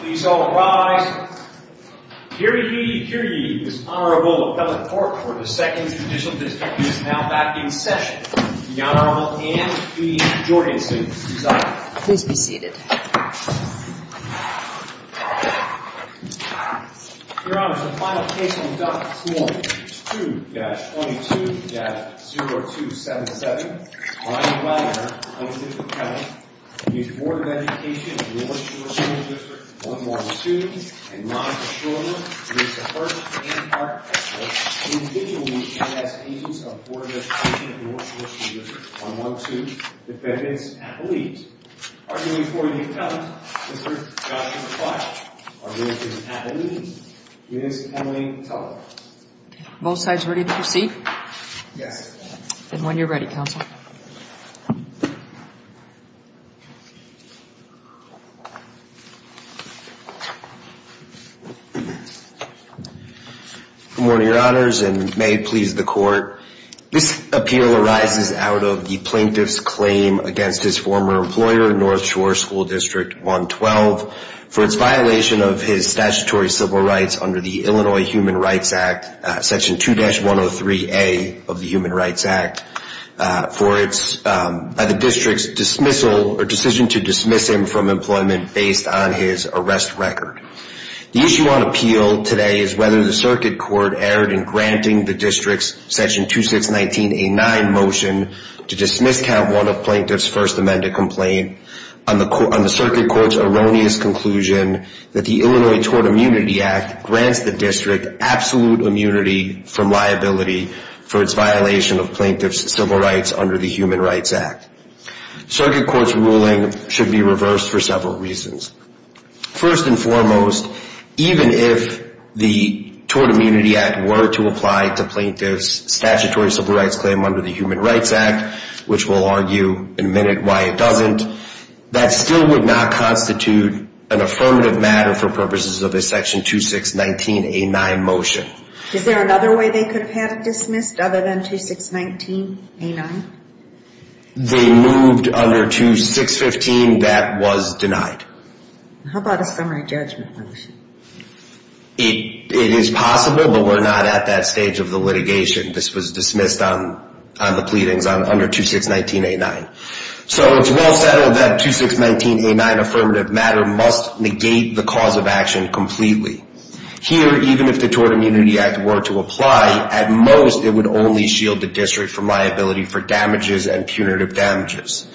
Please all rise. Hear ye, hear ye. This Honorable Appellate Court for the 2nd Judicial District is now back in session. The Honorable Anne B. Jorgensen is up. Please be seated. Your Honor, the final case on the duct this morning is 2-22-0277. My advisor, Honorable District Attorney, the Board of Education of North Shore School District 112, and my patroller, Mr. Hurst, and our experts, the individuals and as agents of the Board of Education of North Shore School District 112, defendants, appellees. Arguing for the account, Mr. Joshua Clark, Arguing for the appellees, Ms. Emily Teller. Are both sides ready to proceed? Yes. Then when you're ready, counsel. Good morning, Your Honors, and may it please the Court, this appeal arises out of the plaintiff's claim against his former employer, North Shore School District 112, for its violation of his statutory civil rights under the Illinois Human Rights Act, Section 2-103A of the Human Rights Act. For its, by the district's dismissal, or decision to dismiss him from employment based on his arrest record. The issue on appeal today is whether the circuit court erred in granting the district's Section 2-619A-9 motion to dismiss Count 1 of Plaintiff's First Amendment complaint. On the circuit court's erroneous conclusion that the Illinois Tort Immunity Act grants the district absolute immunity from liability for its violation of plaintiff's civil rights under the Human Rights Act. Circuit court's ruling should be reversed for several reasons. First and foremost, even if the Tort Immunity Act were to apply to plaintiff's statutory civil rights claim under the Human Rights Act, which we'll argue in a minute why it doesn't, that still would not constitute an affirmative matter for purposes of a Section 2-619A-9 motion. Is there another way they could have dismissed other than 2-619A-9? They moved under 2-615 that was denied. How about a summary judgment motion? It is possible, but we're not at that stage of the litigation. This was dismissed on the pleadings under 2-619A-9. So it's well settled that 2-619A-9 affirmative matter must negate the cause of action completely. Here, even if the Tort Immunity Act were to apply, at most it would only shield the district from liability for damages and punitive damages.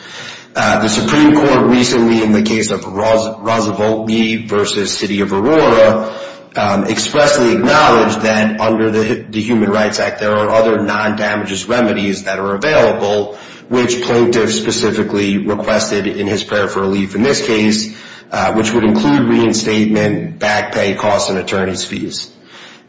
The Supreme Court recently, in the case of Roosevelt v. City of Aurora, expressly acknowledged that under the Human Rights Act there are other non-damages remedies that are available, which plaintiffs specifically requested in his prayer for relief in this case, which would include reinstatement, back pay, costs, and attorney's fees.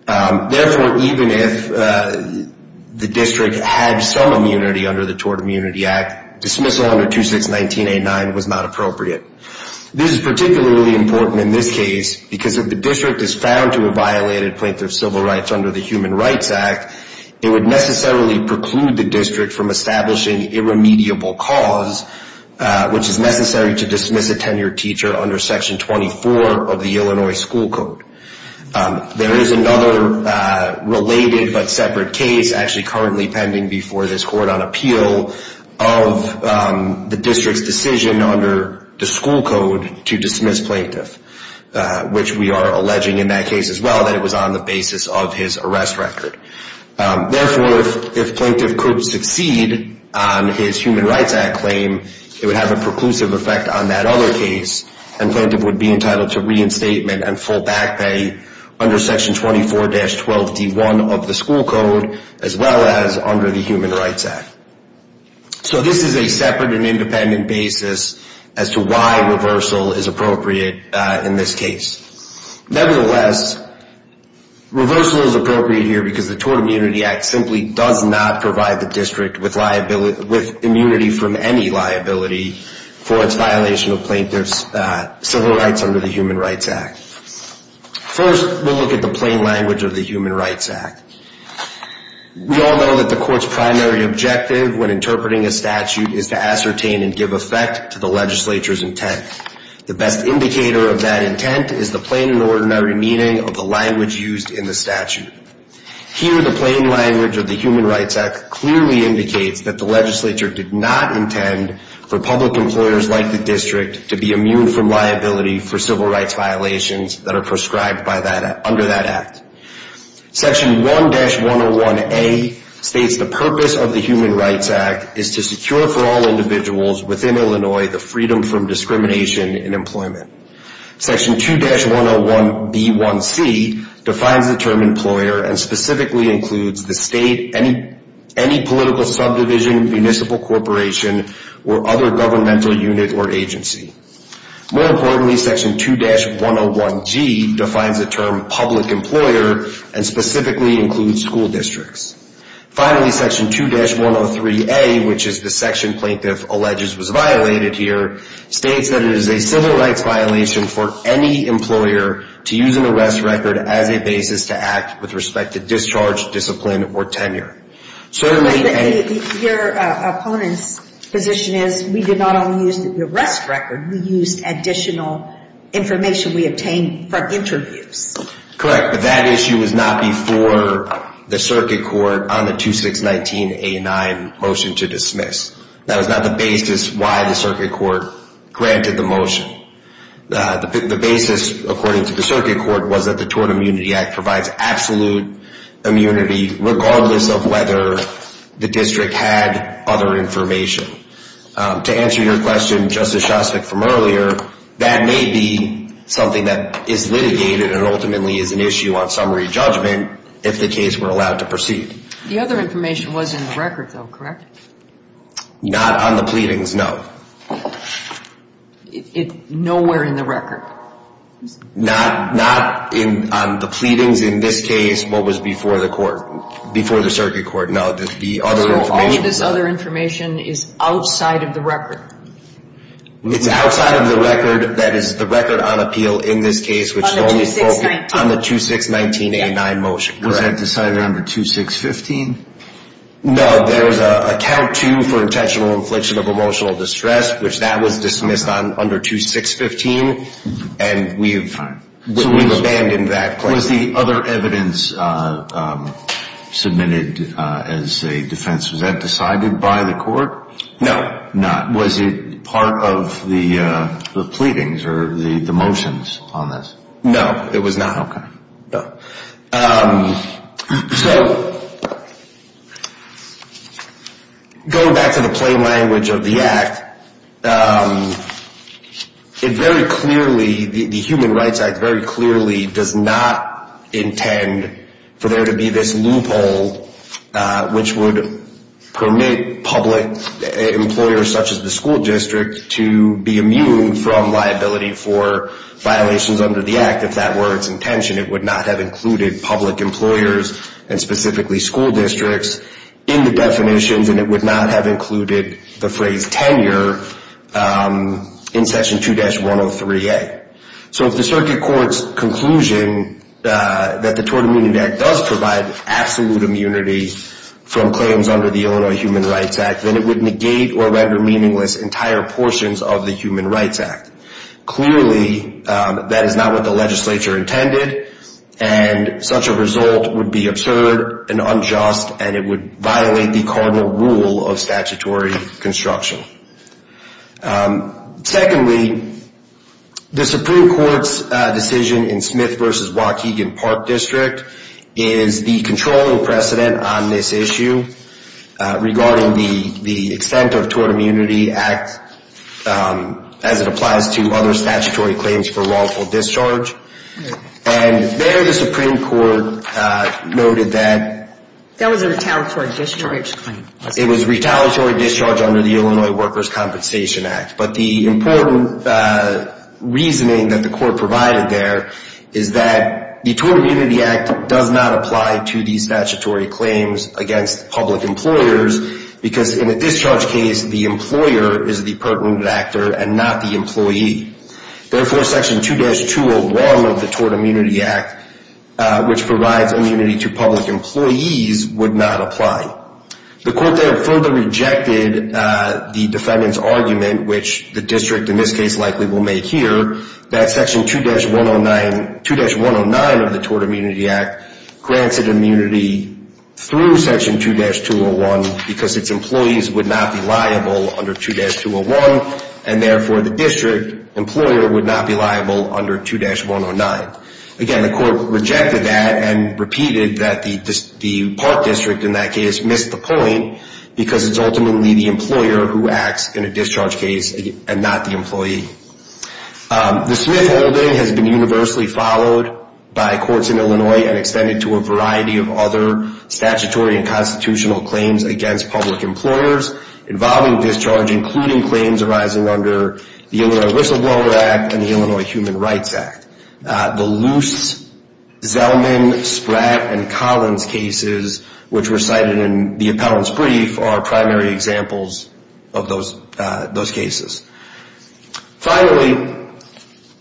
Therefore, even if the district had some immunity under the Tort Immunity Act, dismissal under 2-619A-9 was not appropriate. This is particularly important in this case because if the district is found to have violated plaintiff's civil rights under the Human Rights Act, it would necessarily preclude the district from establishing irremediable cause, which is necessary to dismiss a tenured teacher under Section 24 of the Illinois School Code. There is another related but separate case actually currently pending before this court on appeal of the district's decision under the school code to dismiss plaintiff, which we are alleging in that case as well that it was on the basis of his arrest record. Therefore, if plaintiff could succeed on his Human Rights Act claim, it would have a preclusive effect on that other case and plaintiff would be entitled to reinstatement and full back pay under Section 24-12D1 of the school code as well as under the Human Rights Act. So this is a separate and independent basis as to why reversal is appropriate in this case. Nevertheless, reversal is appropriate here because the Tort Immunity Act simply does not provide the district with immunity from any liability for its violation of plaintiff's civil rights under the Human Rights Act. First, we'll look at the plain language of the Human Rights Act. We all know that the court's primary objective when interpreting a statute is to ascertain and give effect to the legislature's intent. The best indicator of that intent is the plain and ordinary meaning of the language used in the statute. Here, the plain language of the Human Rights Act clearly indicates that the legislature did not intend for public employers like the district to be immune from liability for civil rights violations that are prescribed under that act. Section 1-101A states the purpose of the Human Rights Act is to secure for all individuals within Illinois the freedom from discrimination in employment. Section 2-101B1C defines the term employer and specifically includes the state, any political subdivision, municipal corporation, or other governmental unit or agency. More importantly, Section 2-101G defines the term public employer and specifically includes school districts. Finally, Section 2-103A, which is the section plaintiff alleges was violated here, states that it is a civil rights violation for any employer to use an arrest record as a basis to act with respect to discharge, discipline, or tenure. Your opponent's position is we did not only use the arrest record, we used additional information we obtained from interviews. Correct, but that issue was not before the circuit court on the 2619A9 motion to dismiss. That was not the basis why the circuit court granted the motion. The basis, according to the circuit court, was that the Tort Immunity Act provides absolute immunity regardless of whether the district had other information. To answer your question, Justice Shostak, from earlier, that may be something that is litigated and ultimately is an issue on summary judgment if the case were allowed to proceed. The other information was in the record, though, correct? Not on the pleadings, no. Nowhere in the record. Not on the pleadings, in this case, what was before the court, before the circuit court, no. The other information is outside of the record. It's outside of the record, that is, the record on appeal in this case, which only spoke on the 2619A9 motion. Was that to sign number 2615? No, there's a count two for intentional infliction of emotional distress, which that was dismissed under 2615, and we've abandoned that claim. Was the other evidence submitted as a defense, was that decided by the court? No. Not. Was it part of the pleadings or the motions on this? No, it was not. Okay. So going back to the plain language of the act, it very clearly, the Human Rights Act very clearly does not intend for there to be this loophole, which would permit public employers such as the school district to be immune from liability for violations under the act. In fact, if that were its intention, it would not have included public employers and specifically school districts in the definitions, and it would not have included the phrase tenure in Section 2-103A. So if the circuit court's conclusion that the Tort Immunity Act does provide absolute immunity from claims under the Illinois Human Rights Act, then it would negate or render meaningless entire portions of the Human Rights Act. Clearly, that is not what the legislature intended, and such a result would be absurd and unjust, and it would violate the cardinal rule of statutory construction. Secondly, the Supreme Court's decision in Smith v. Waukegan Park District is the controlling precedent on this issue regarding the extent of Tort Immunity Act as it applies to other statutory claims for wrongful discharge. And there the Supreme Court noted that... That was a retaliatory discharge claim. It was retaliatory discharge under the Illinois Workers' Compensation Act. But the important reasoning that the court provided there is that the Tort Immunity Act does not apply to these statutory claims against public employers because in a discharge case, the employer is the pertinent actor and not the employee. Therefore, Section 2-201 of the Tort Immunity Act, which provides immunity to public employees, would not apply. The court there further rejected the defendant's argument, which the district in this case likely will make here, that Section 2-109 of the Tort Immunity Act grants it immunity through Section 2-201 because its employees would not be liable under 2-201, and therefore the district employer would not be liable under 2-109. Again, the court rejected that and repeated that the park district in that case missed the point because it's ultimately the employer who acts in a discharge case and not the employee. The Smith holding has been universally followed by courts in Illinois and extended to a variety of other statutory and constitutional claims against public employers involving discharge, including claims arising under the Illinois Whistleblower Act and the Illinois Human Rights Act. The Luce, Zelman, Spratt, and Collins cases, which were cited in the appellant's brief, are primary examples of those cases. Finally,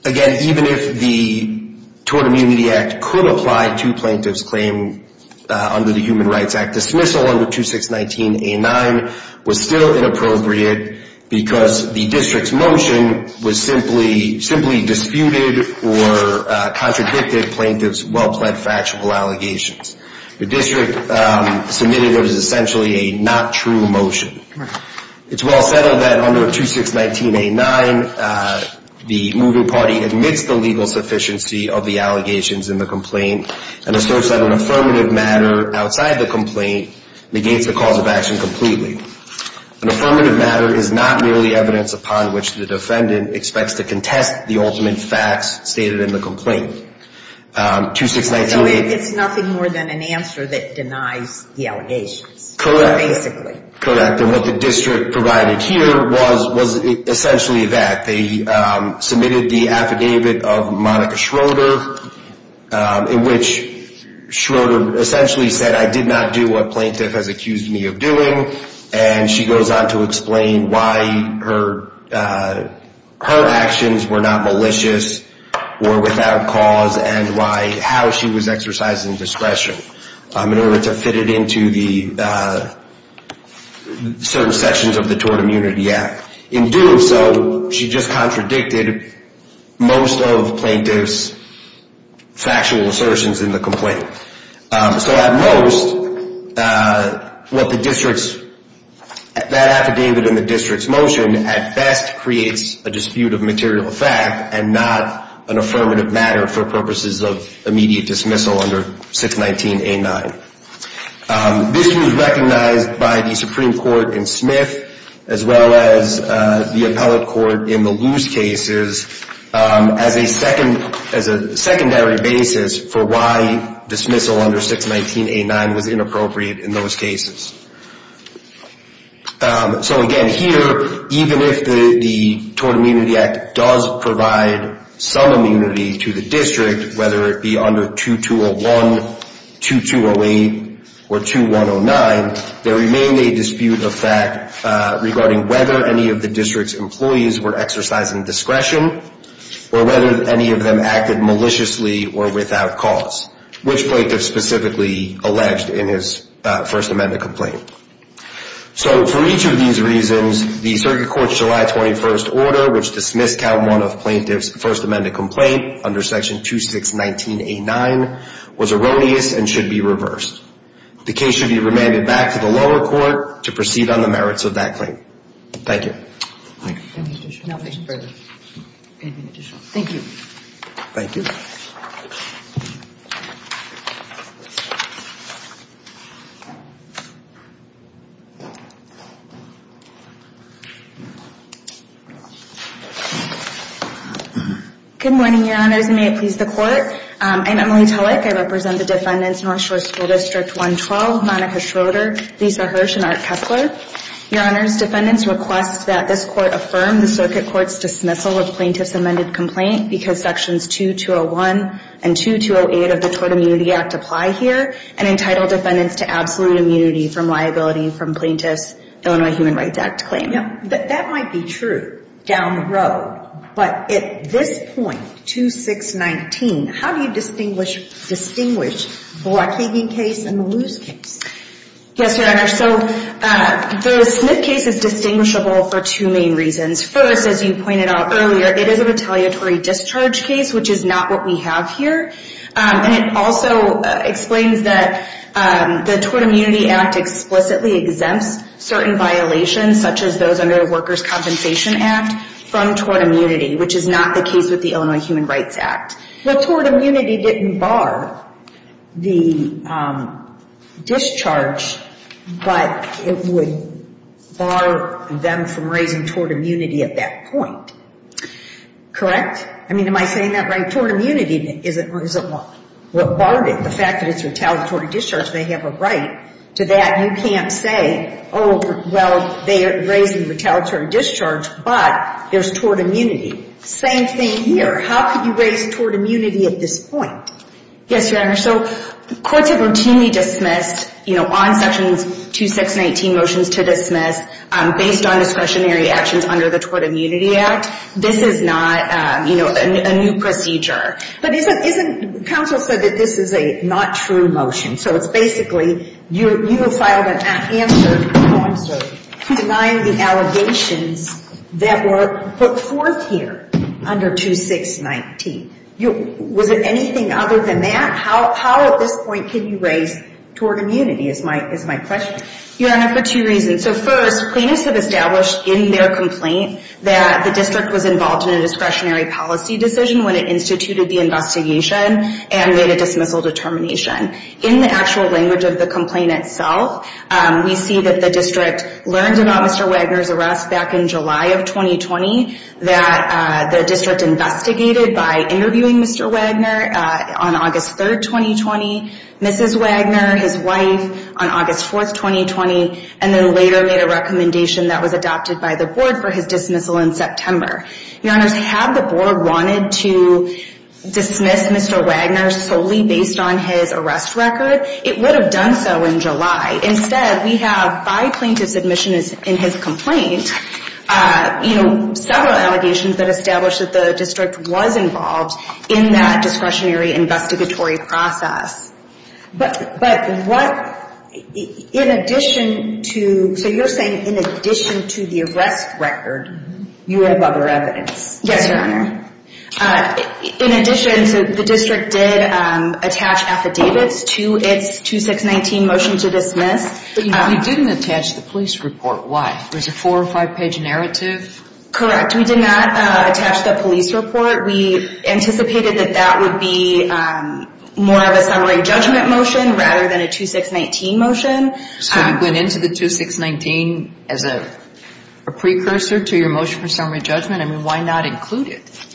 again, even if the Tort Immunity Act could apply to plaintiff's claim under the Human Rights Act, dismissal under 2-619-A-9 was still inappropriate because the district's motion was simply disputed or contradicted plaintiff's well-pled factual allegations. The district submitted what is essentially a not true motion. It's well said of that under 2-619-A-9, the moving party admits the legal sufficiency of the allegations in the complaint and asserts that an affirmative matter outside the complaint negates the cause of action completely. An affirmative matter is not merely evidence upon which the defendant expects to contest the ultimate facts stated in the complaint. 2-619-A- It's nothing more than an answer that denies the allegations. Correct. Basically. Correct. And what the district provided here was essentially that. They submitted the affidavit of Monica Schroeder, in which Schroeder essentially said, I did not do what plaintiff has accused me of doing. And she goes on to explain why her actions were not malicious or without cause and how she was exercising discretion in order to fit it into the certain sections of the Tort Immunity Act. In doing so, she just contradicted most of plaintiff's factual assertions in the complaint. So at most, that affidavit in the district's motion at best creates a dispute of material fact and not an affirmative matter for purposes of immediate dismissal under 619-A-9. This was recognized by the Supreme Court in Smith as well as the appellate court in the loose cases as a secondary basis for why dismissal under 619-A-9 was inappropriate in those cases. So again, here, even if the Tort Immunity Act does provide some immunity to the district, whether it be under 2201, 2208, or 2109, there remained a dispute of fact regarding whether any of the district's employees were exercising discretion or whether any of them acted maliciously or without cause, which plaintiff specifically alleged in his First Amendment complaint. So for each of these reasons, the circuit court's July 21st order, which dismissed count one of plaintiff's First Amendment complaint under section 2619-A-9, was erroneous and should be reversed. The case should be remanded back to the lower court to proceed on the merits of that claim. Thank you. Anything additional? No, thank you. Anything additional? Thank you. Thank you. Good morning, Your Honors, and may it please the Court. I'm Emily Tillich. I represent the defendants, North Shore School District 112, Monica Schroeder, Lisa Hirsch, and Art Kessler. Your Honors, defendants request that this Court affirm the circuit court's dismissal of plaintiff's amended complaint because sections 2201 and 2208 of the Tort Immunity Act apply here and entitle defendants to absolute immunity from liability from plaintiff's Illinois Human Rights Act claim. That might be true down the road, but at this point, 2619, how do you distinguish the Waukegan case and the Luce case? Yes, Your Honor, so the Smith case is distinguishable for two main reasons. First, as you pointed out earlier, it is a retaliatory discharge case, which is not what we have here, and it also explains that the Tort Immunity Act explicitly exempts certain violations, such as those under the Workers' Compensation Act, from tort immunity, which is not the case with the Illinois Human Rights Act. Well, tort immunity didn't bar the discharge, but it would bar them from raising tort immunity at that point. Correct? I mean, am I saying that right? Tort immunity isn't what barred it. The fact that it's retaliatory discharge, they have a right to that. You can't say, oh, well, they are raising retaliatory discharge, but there's tort immunity. Same thing here. How could you raise tort immunity at this point? Yes, Your Honor. So courts have routinely dismissed, you know, on sections 2619 motions to dismiss, based on discretionary actions under the Tort Immunity Act. This is not, you know, a new procedure. But isn't counsel said that this is a not true motion? So it's basically you have filed an answer denying the allegations that were put forth here under 2619. Was it anything other than that? How at this point can you raise tort immunity is my question. Your Honor, for two reasons. So first, plaintiffs have established in their complaint that the district was involved in a discretionary policy decision when it instituted the investigation and made a dismissal determination. In the actual language of the complaint itself, we see that the district learned about Mr. Wagner's arrest back in July of 2020, that the district investigated by interviewing Mr. Wagner on August 3rd, 2020, Mrs. Wagner, his wife, on August 4th, 2020, and then later made a recommendation that was adopted by the board for his dismissal in September. Your Honors, had the board wanted to dismiss Mr. Wagner solely based on his arrest record, it would have done so in July. Instead, we have by plaintiff's admission in his complaint, you know, several allegations that establish that the district was involved in that discretionary investigatory process. But what, in addition to, so you're saying in addition to the arrest record, you have other evidence. Yes, Your Honor. In addition, the district did attach affidavits to its 2619 motion to dismiss. You didn't attach the police report, why? Was it a four or five page narrative? Correct, we did not attach the police report. We anticipated that that would be more of a summary judgment motion rather than a 2619 motion. So you went into the 2619 as a precursor to your motion for summary judgment? I mean, why not include it?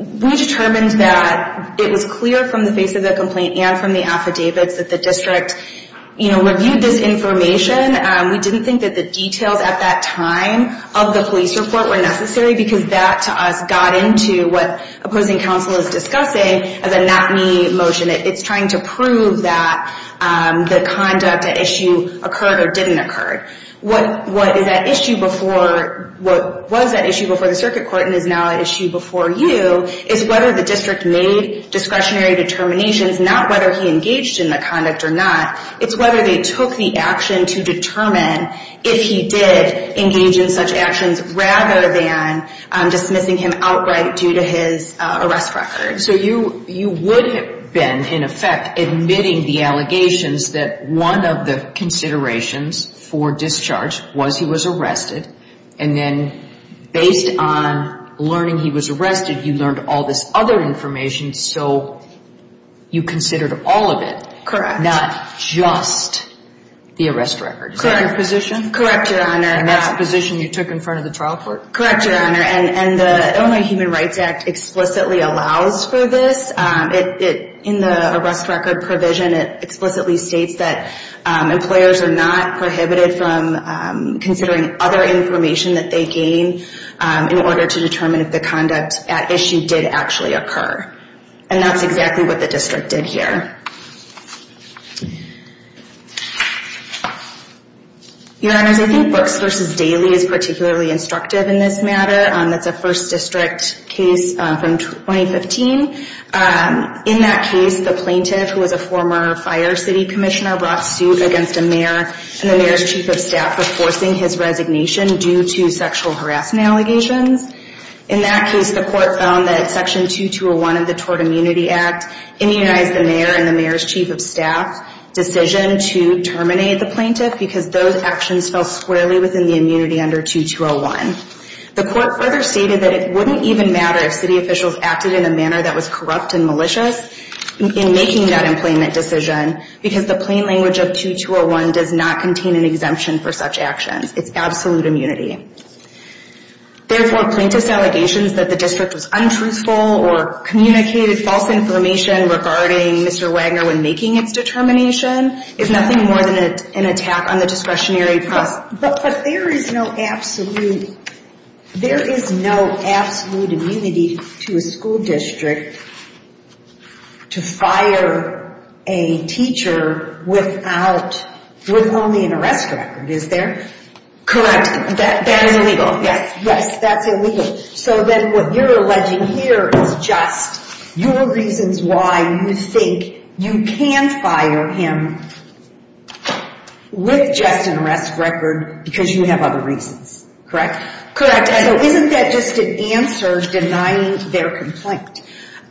We determined that it was clear from the face of the complaint and from the affidavits that the district, you know, reviewed this information. We didn't think that the details at that time of the police report were necessary because that, to us, got into what opposing counsel is discussing as a not me motion. It's trying to prove that the conduct at issue occurred or didn't occur. What is at issue before, what was at issue before the circuit court and is now at issue before you is whether the district made discretionary determinations, not whether he engaged in the conduct or not. It's whether they took the action to determine if he did engage in such actions rather than dismissing him outright due to his arrest record. So you would have been, in effect, admitting the allegations that one of the considerations for discharge was he was arrested and then based on learning he was arrested, you learned all this other information so you considered all of it. Correct. Not just the arrest record. Is that your position? Correct, Your Honor. And that's the position you took in front of the trial court? Correct, Your Honor. And the Illinois Human Rights Act explicitly allows for this. In the arrest record provision, it explicitly states that employers are not prohibited from considering other information that they gain in order to determine if the conduct at issue did actually occur. And that's exactly what the district did here. Your Honors, I think Brooks v. Daly is particularly instructive in this matter. It's a first district case from 2015. In that case, the plaintiff, who was a former fire city commissioner, brought suit against a mayor and the mayor's chief of staff for forcing his resignation due to sexual harassment allegations. In that case, the court found that Section 2201 of the Tort Immunity Act immunized the mayor and the mayor's chief of staff's decision to terminate the plaintiff because those actions fell squarely within the immunity under 2201. The court further stated that it wouldn't even matter if city officials acted in a manner that was corrupt and malicious in making that employment decision because the plain language of 2201 does not contain an exemption for such actions. It's absolute immunity. Therefore, plaintiff's allegations that the district was untruthful or communicated false information regarding Mr. Wagner when making its determination is nothing more than an attack on the discretionary press. But there is no absolute immunity to a school district to fire a teacher with only an arrest record, is there? Correct. That is illegal. Yes, that's illegal. So then what you're alleging here is just your reasons why you think you can fire him with just an arrest record because you have other reasons, correct? Correct. So isn't that just an answer denying their complaint?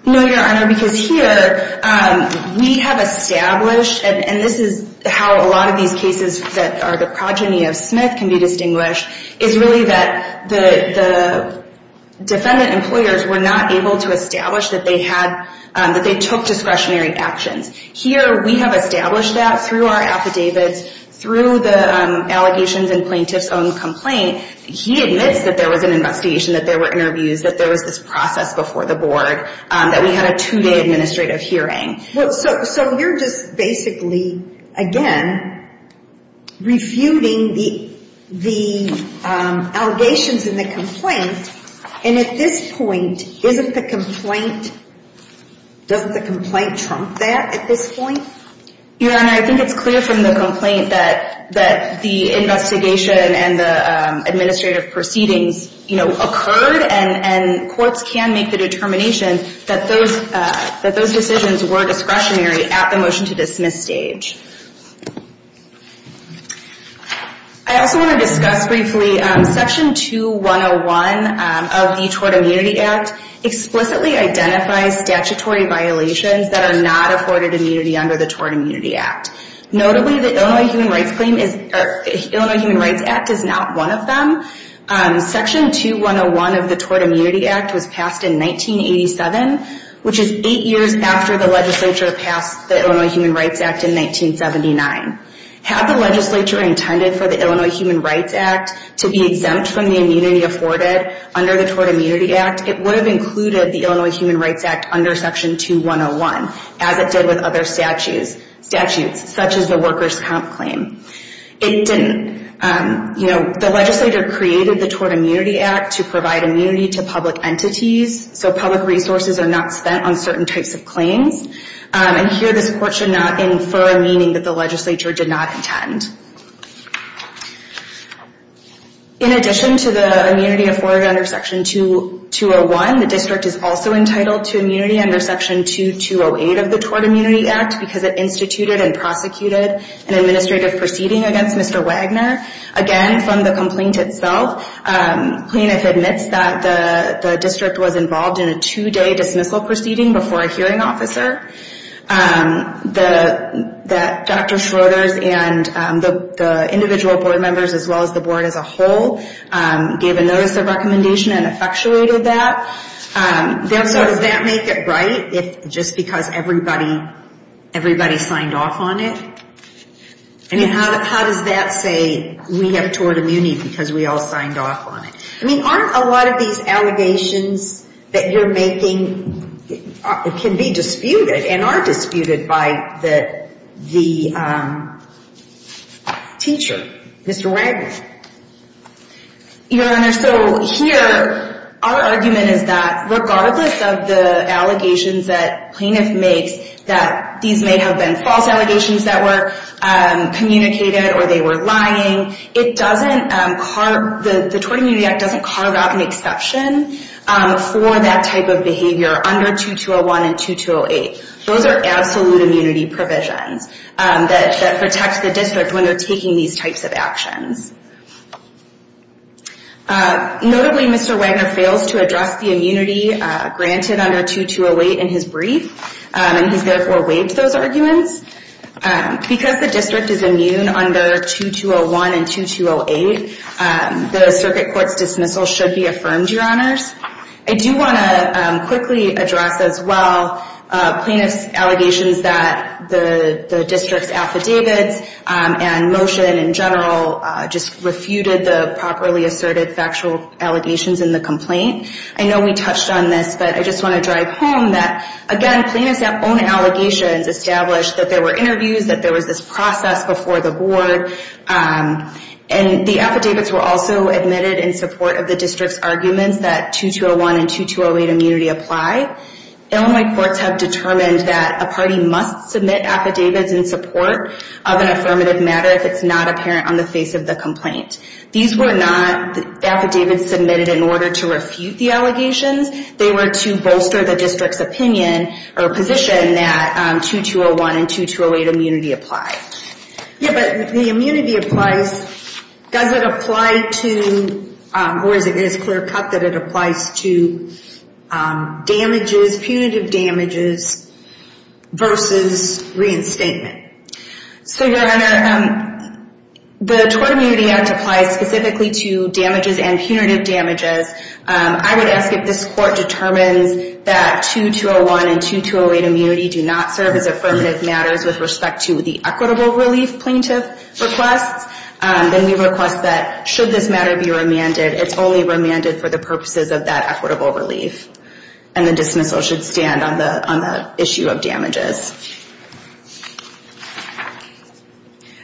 No, Your Honor, because here we have established, and this is how a lot of these cases that are the progeny of Smith can be distinguished, is really that the defendant employers were not able to establish that they took discretionary actions. Here we have established that through our affidavits, through the allegations in plaintiff's own complaint. He admits that there was an investigation, that there were interviews, that there was this process before the board, that we had a two-day administrative hearing. So you're just basically, again, refuting the allegations in the complaint. And at this point, isn't the complaint, doesn't the complaint trump that at this point? Your Honor, I think it's clear from the complaint that the investigation and the administrative proceedings, you know, occurred, and courts can make the determination that those decisions were discretionary at the motion to dismiss stage. I also want to discuss briefly Section 2101 of the Tort Immunity Act explicitly identifies statutory violations that are not afforded immunity under the Tort Immunity Act. Notably, the Illinois Human Rights Act is not one of them. Section 2101 of the Tort Immunity Act was passed in 1987, which is eight years after the legislature passed the Illinois Human Rights Act in 1979. Had the legislature intended for the Illinois Human Rights Act to be exempt from the immunity afforded under the Tort Immunity Act, it would have included the Illinois Human Rights Act under Section 2101, as it did with other statutes, such as the workers' comp claim. It didn't. You know, the legislature created the Tort Immunity Act to provide immunity to public entities, so public resources are not spent on certain types of claims. And here, this Court should not infer meaning that the legislature did not intend. In addition to the immunity afforded under Section 201, the district is also entitled to immunity under Section 2208 of the Tort Immunity Act because it instituted and prosecuted an administrative proceeding against Mr. Wagner. Again, from the complaint itself, plaintiff admits that the district was involved in a two-day dismissal proceeding before a hearing officer, that Dr. Schroeders and the individual board members as well as the board as a whole gave a notice of recommendation and effectuated that. So does that make it right if just because everybody signed off on it? I mean, how does that say we have tort immunity because we all signed off on it? I mean, aren't a lot of these allegations that you're making can be disputed and are disputed by the teacher, Mr. Wagner? Your Honor, so here, our argument is that regardless of the allegations that plaintiff makes, that these may have been false allegations that were communicated or they were lying, the Tort Immunity Act doesn't carve out an exception for that type of behavior under 2201 and 2208. Those are absolute immunity provisions that protect the district when they're taking these types of actions. Notably, Mr. Wagner fails to address the immunity granted under 2208 in his brief, and he's therefore waived those arguments. Because the district is immune under 2201 and 2208, the circuit court's dismissal should be affirmed, Your Honors. I do want to quickly address as well plaintiff's allegations that the district's affidavits and motion in general just refuted the properly asserted factual allegations in the complaint. I know we touched on this, but I just want to drive home that, again, plaintiff's own allegations established that there were interviews, that there was this process before the board, and the affidavits were also admitted in support of the district's arguments that 2201 and 2208 immunity apply. Illinois courts have determined that a party must submit affidavits in support of an affirmative matter if it's not apparent on the face of the complaint. These were not affidavits submitted in order to refute the allegations. They were to bolster the district's opinion or position that 2201 and 2208 immunity apply. Yeah, but the immunity applies. Does it apply to, or is it clear-cut that it applies to damages, punitive damages, versus reinstatement? So, Your Honor, the Tort Immunity Act applies specifically to damages and punitive damages. I would ask if this court determines that 2201 and 2208 immunity do not serve as affirmative matters with respect to the equitable relief plaintiff requests, then we request that, should this matter be remanded, it's only remanded for the purposes of that equitable relief, and the dismissal should stand on the issue of damages.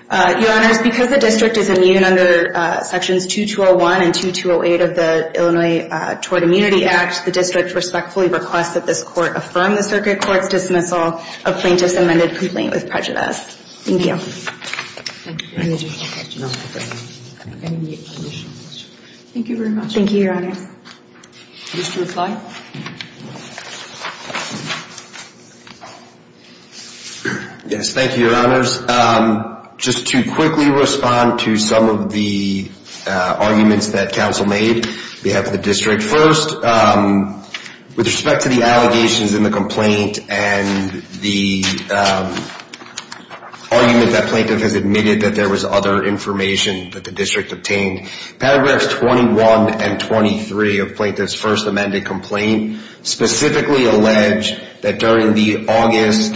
Your Honors, because the district is immune under sections 2201 and 2208 of the Illinois Tort Immunity Act, the district respectfully requests that this court affirm the circuit court's dismissal of plaintiff's amended complaint with prejudice. Thank you. Thank you very much. Thank you, Your Honors. Mr. McFly? Yes, thank you, Your Honors. Just to quickly respond to some of the arguments that counsel made, we have the district first. With respect to the allegations in the complaint and the argument that plaintiff has admitted that there was other information that the district obtained, paragraphs 21 and 23 of plaintiff's first amended complaint specifically allege that during the August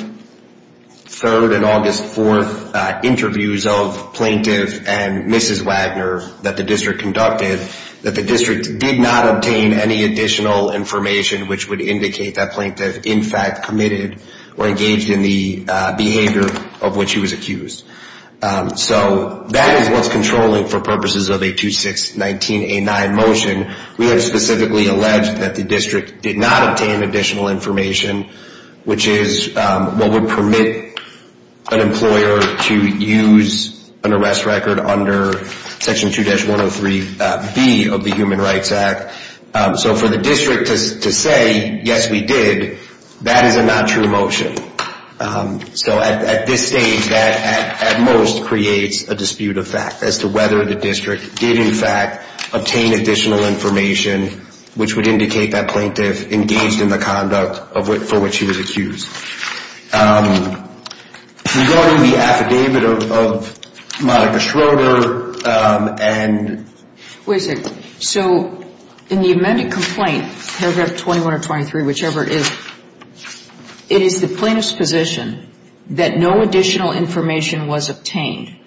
3rd and August 4th interviews of plaintiff and Mrs. Wagner that the district conducted, that the district did not obtain any additional information which would indicate that plaintiff, in fact, committed or engaged in the behavior of which he was accused. So that is what's controlling for purposes of a 2619A9 motion. We have specifically alleged that the district did not obtain additional information, which is what would permit an employer to use an arrest record under Section 2-103B of the Human Rights Act. So for the district to say, yes, we did, that is a not true motion. So at this stage, that at most creates a dispute of fact as to whether the district did, in fact, obtain additional information which would indicate that plaintiff engaged in the conduct for which he was accused. Regarding the affidavit of Monica Schroeder and – that no additional information was obtained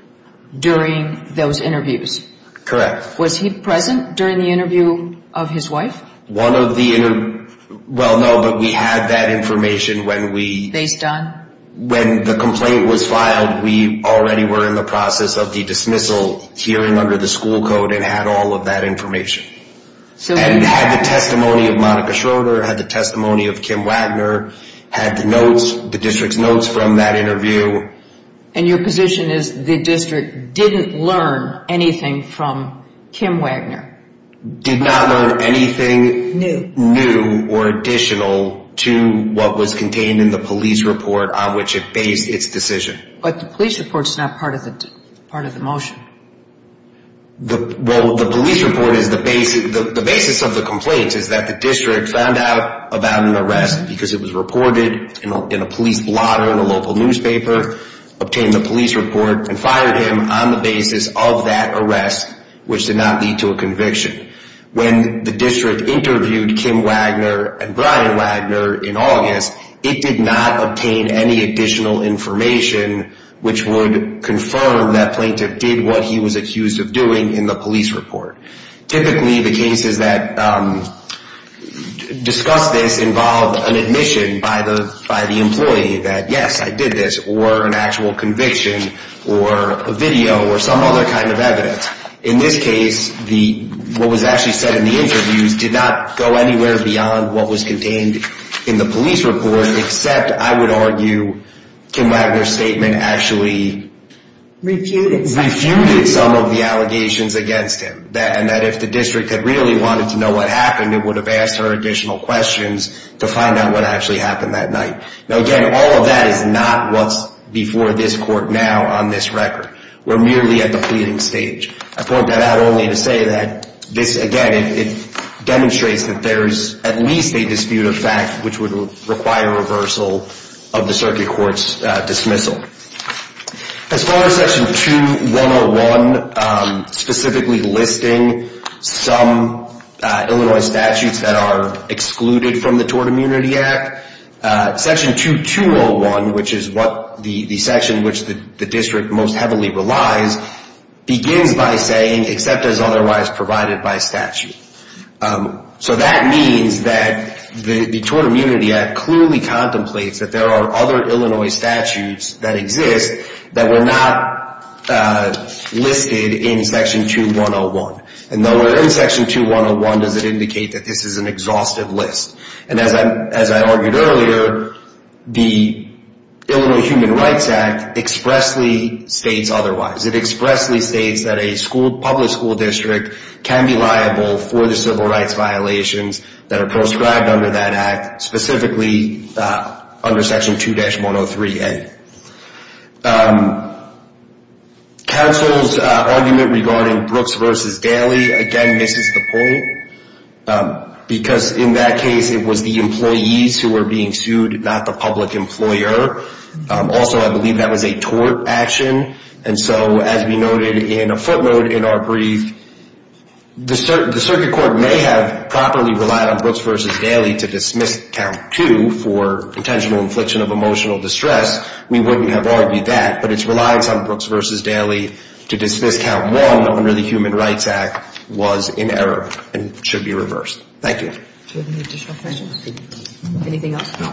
during those interviews. Correct. Was he present during the interview of his wife? One of the – well, no, but we had that information when we – Based on? When the complaint was filed, we already were in the process of the dismissal hearing under the school code and had all of that information. And had the testimony of Monica Schroeder, had the testimony of Kim Wagner, had the notes, the district's notes from that interview. And your position is the district didn't learn anything from Kim Wagner? Did not learn anything new or additional to what was contained in the police report on which it based its decision. But the police report is not part of the motion. Well, the police report is the – the basis of the complaint is that the district found out about an arrest because it was reported in a police blotter in a local newspaper, obtained the police report, and fired him on the basis of that arrest, which did not lead to a conviction. When the district interviewed Kim Wagner and Brian Wagner in August, it did not obtain any additional information which would confirm that plaintiff did what he was accused of doing in the police report. Typically, the cases that discuss this involve an admission by the employee that, yes, I did this, or an actual conviction, or a video, or some other kind of evidence. In this case, what was actually said in the interviews did not go anywhere beyond what was contained in the police report, except, I would argue, Kim Wagner's statement actually refuted some of the allegations against him. And that if the district had really wanted to know what happened, it would have asked her additional questions to find out what actually happened that night. Now, again, all of that is not what's before this court now on this record. We're merely at the pleading stage. I point that out only to say that this, again, it demonstrates that there is at least a dispute of fact which would require reversal of the circuit court's dismissal. As far as Section 2101 specifically listing some Illinois statutes that are excluded from the Tort Immunity Act, Section 2201, which is the section which the district most heavily relies, begins by saying, except as otherwise provided by statute. So that means that the Tort Immunity Act clearly contemplates that there are other Illinois statutes that exist that were not listed in Section 2101. And though we're in Section 2101, does it indicate that this is an exhaustive list? And as I argued earlier, the Illinois Human Rights Act expressly states otherwise. It expressly states that a public school district can be liable for the civil rights violations that are proscribed under that act, specifically under Section 2-103A. Counsel's argument regarding Brooks v. Daly, again, misses the point. Because in that case, it was the employees who were being sued, not the public employer. Also, I believe that was a tort action. And so, as we noted in a footnote in our brief, the circuit court may have properly relied on Brooks v. Daly to dismiss Count 2 for intentional infliction of emotional distress. We wouldn't have argued that. But its reliance on Brooks v. Daly to dismiss Count 1 under the Human Rights Act was in error and should be reversed. Thank you. Do you have any additional questions? Anything else? No.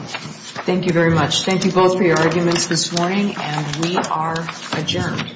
Thank you very much. Thank you both for your arguments this morning. And we are adjourned.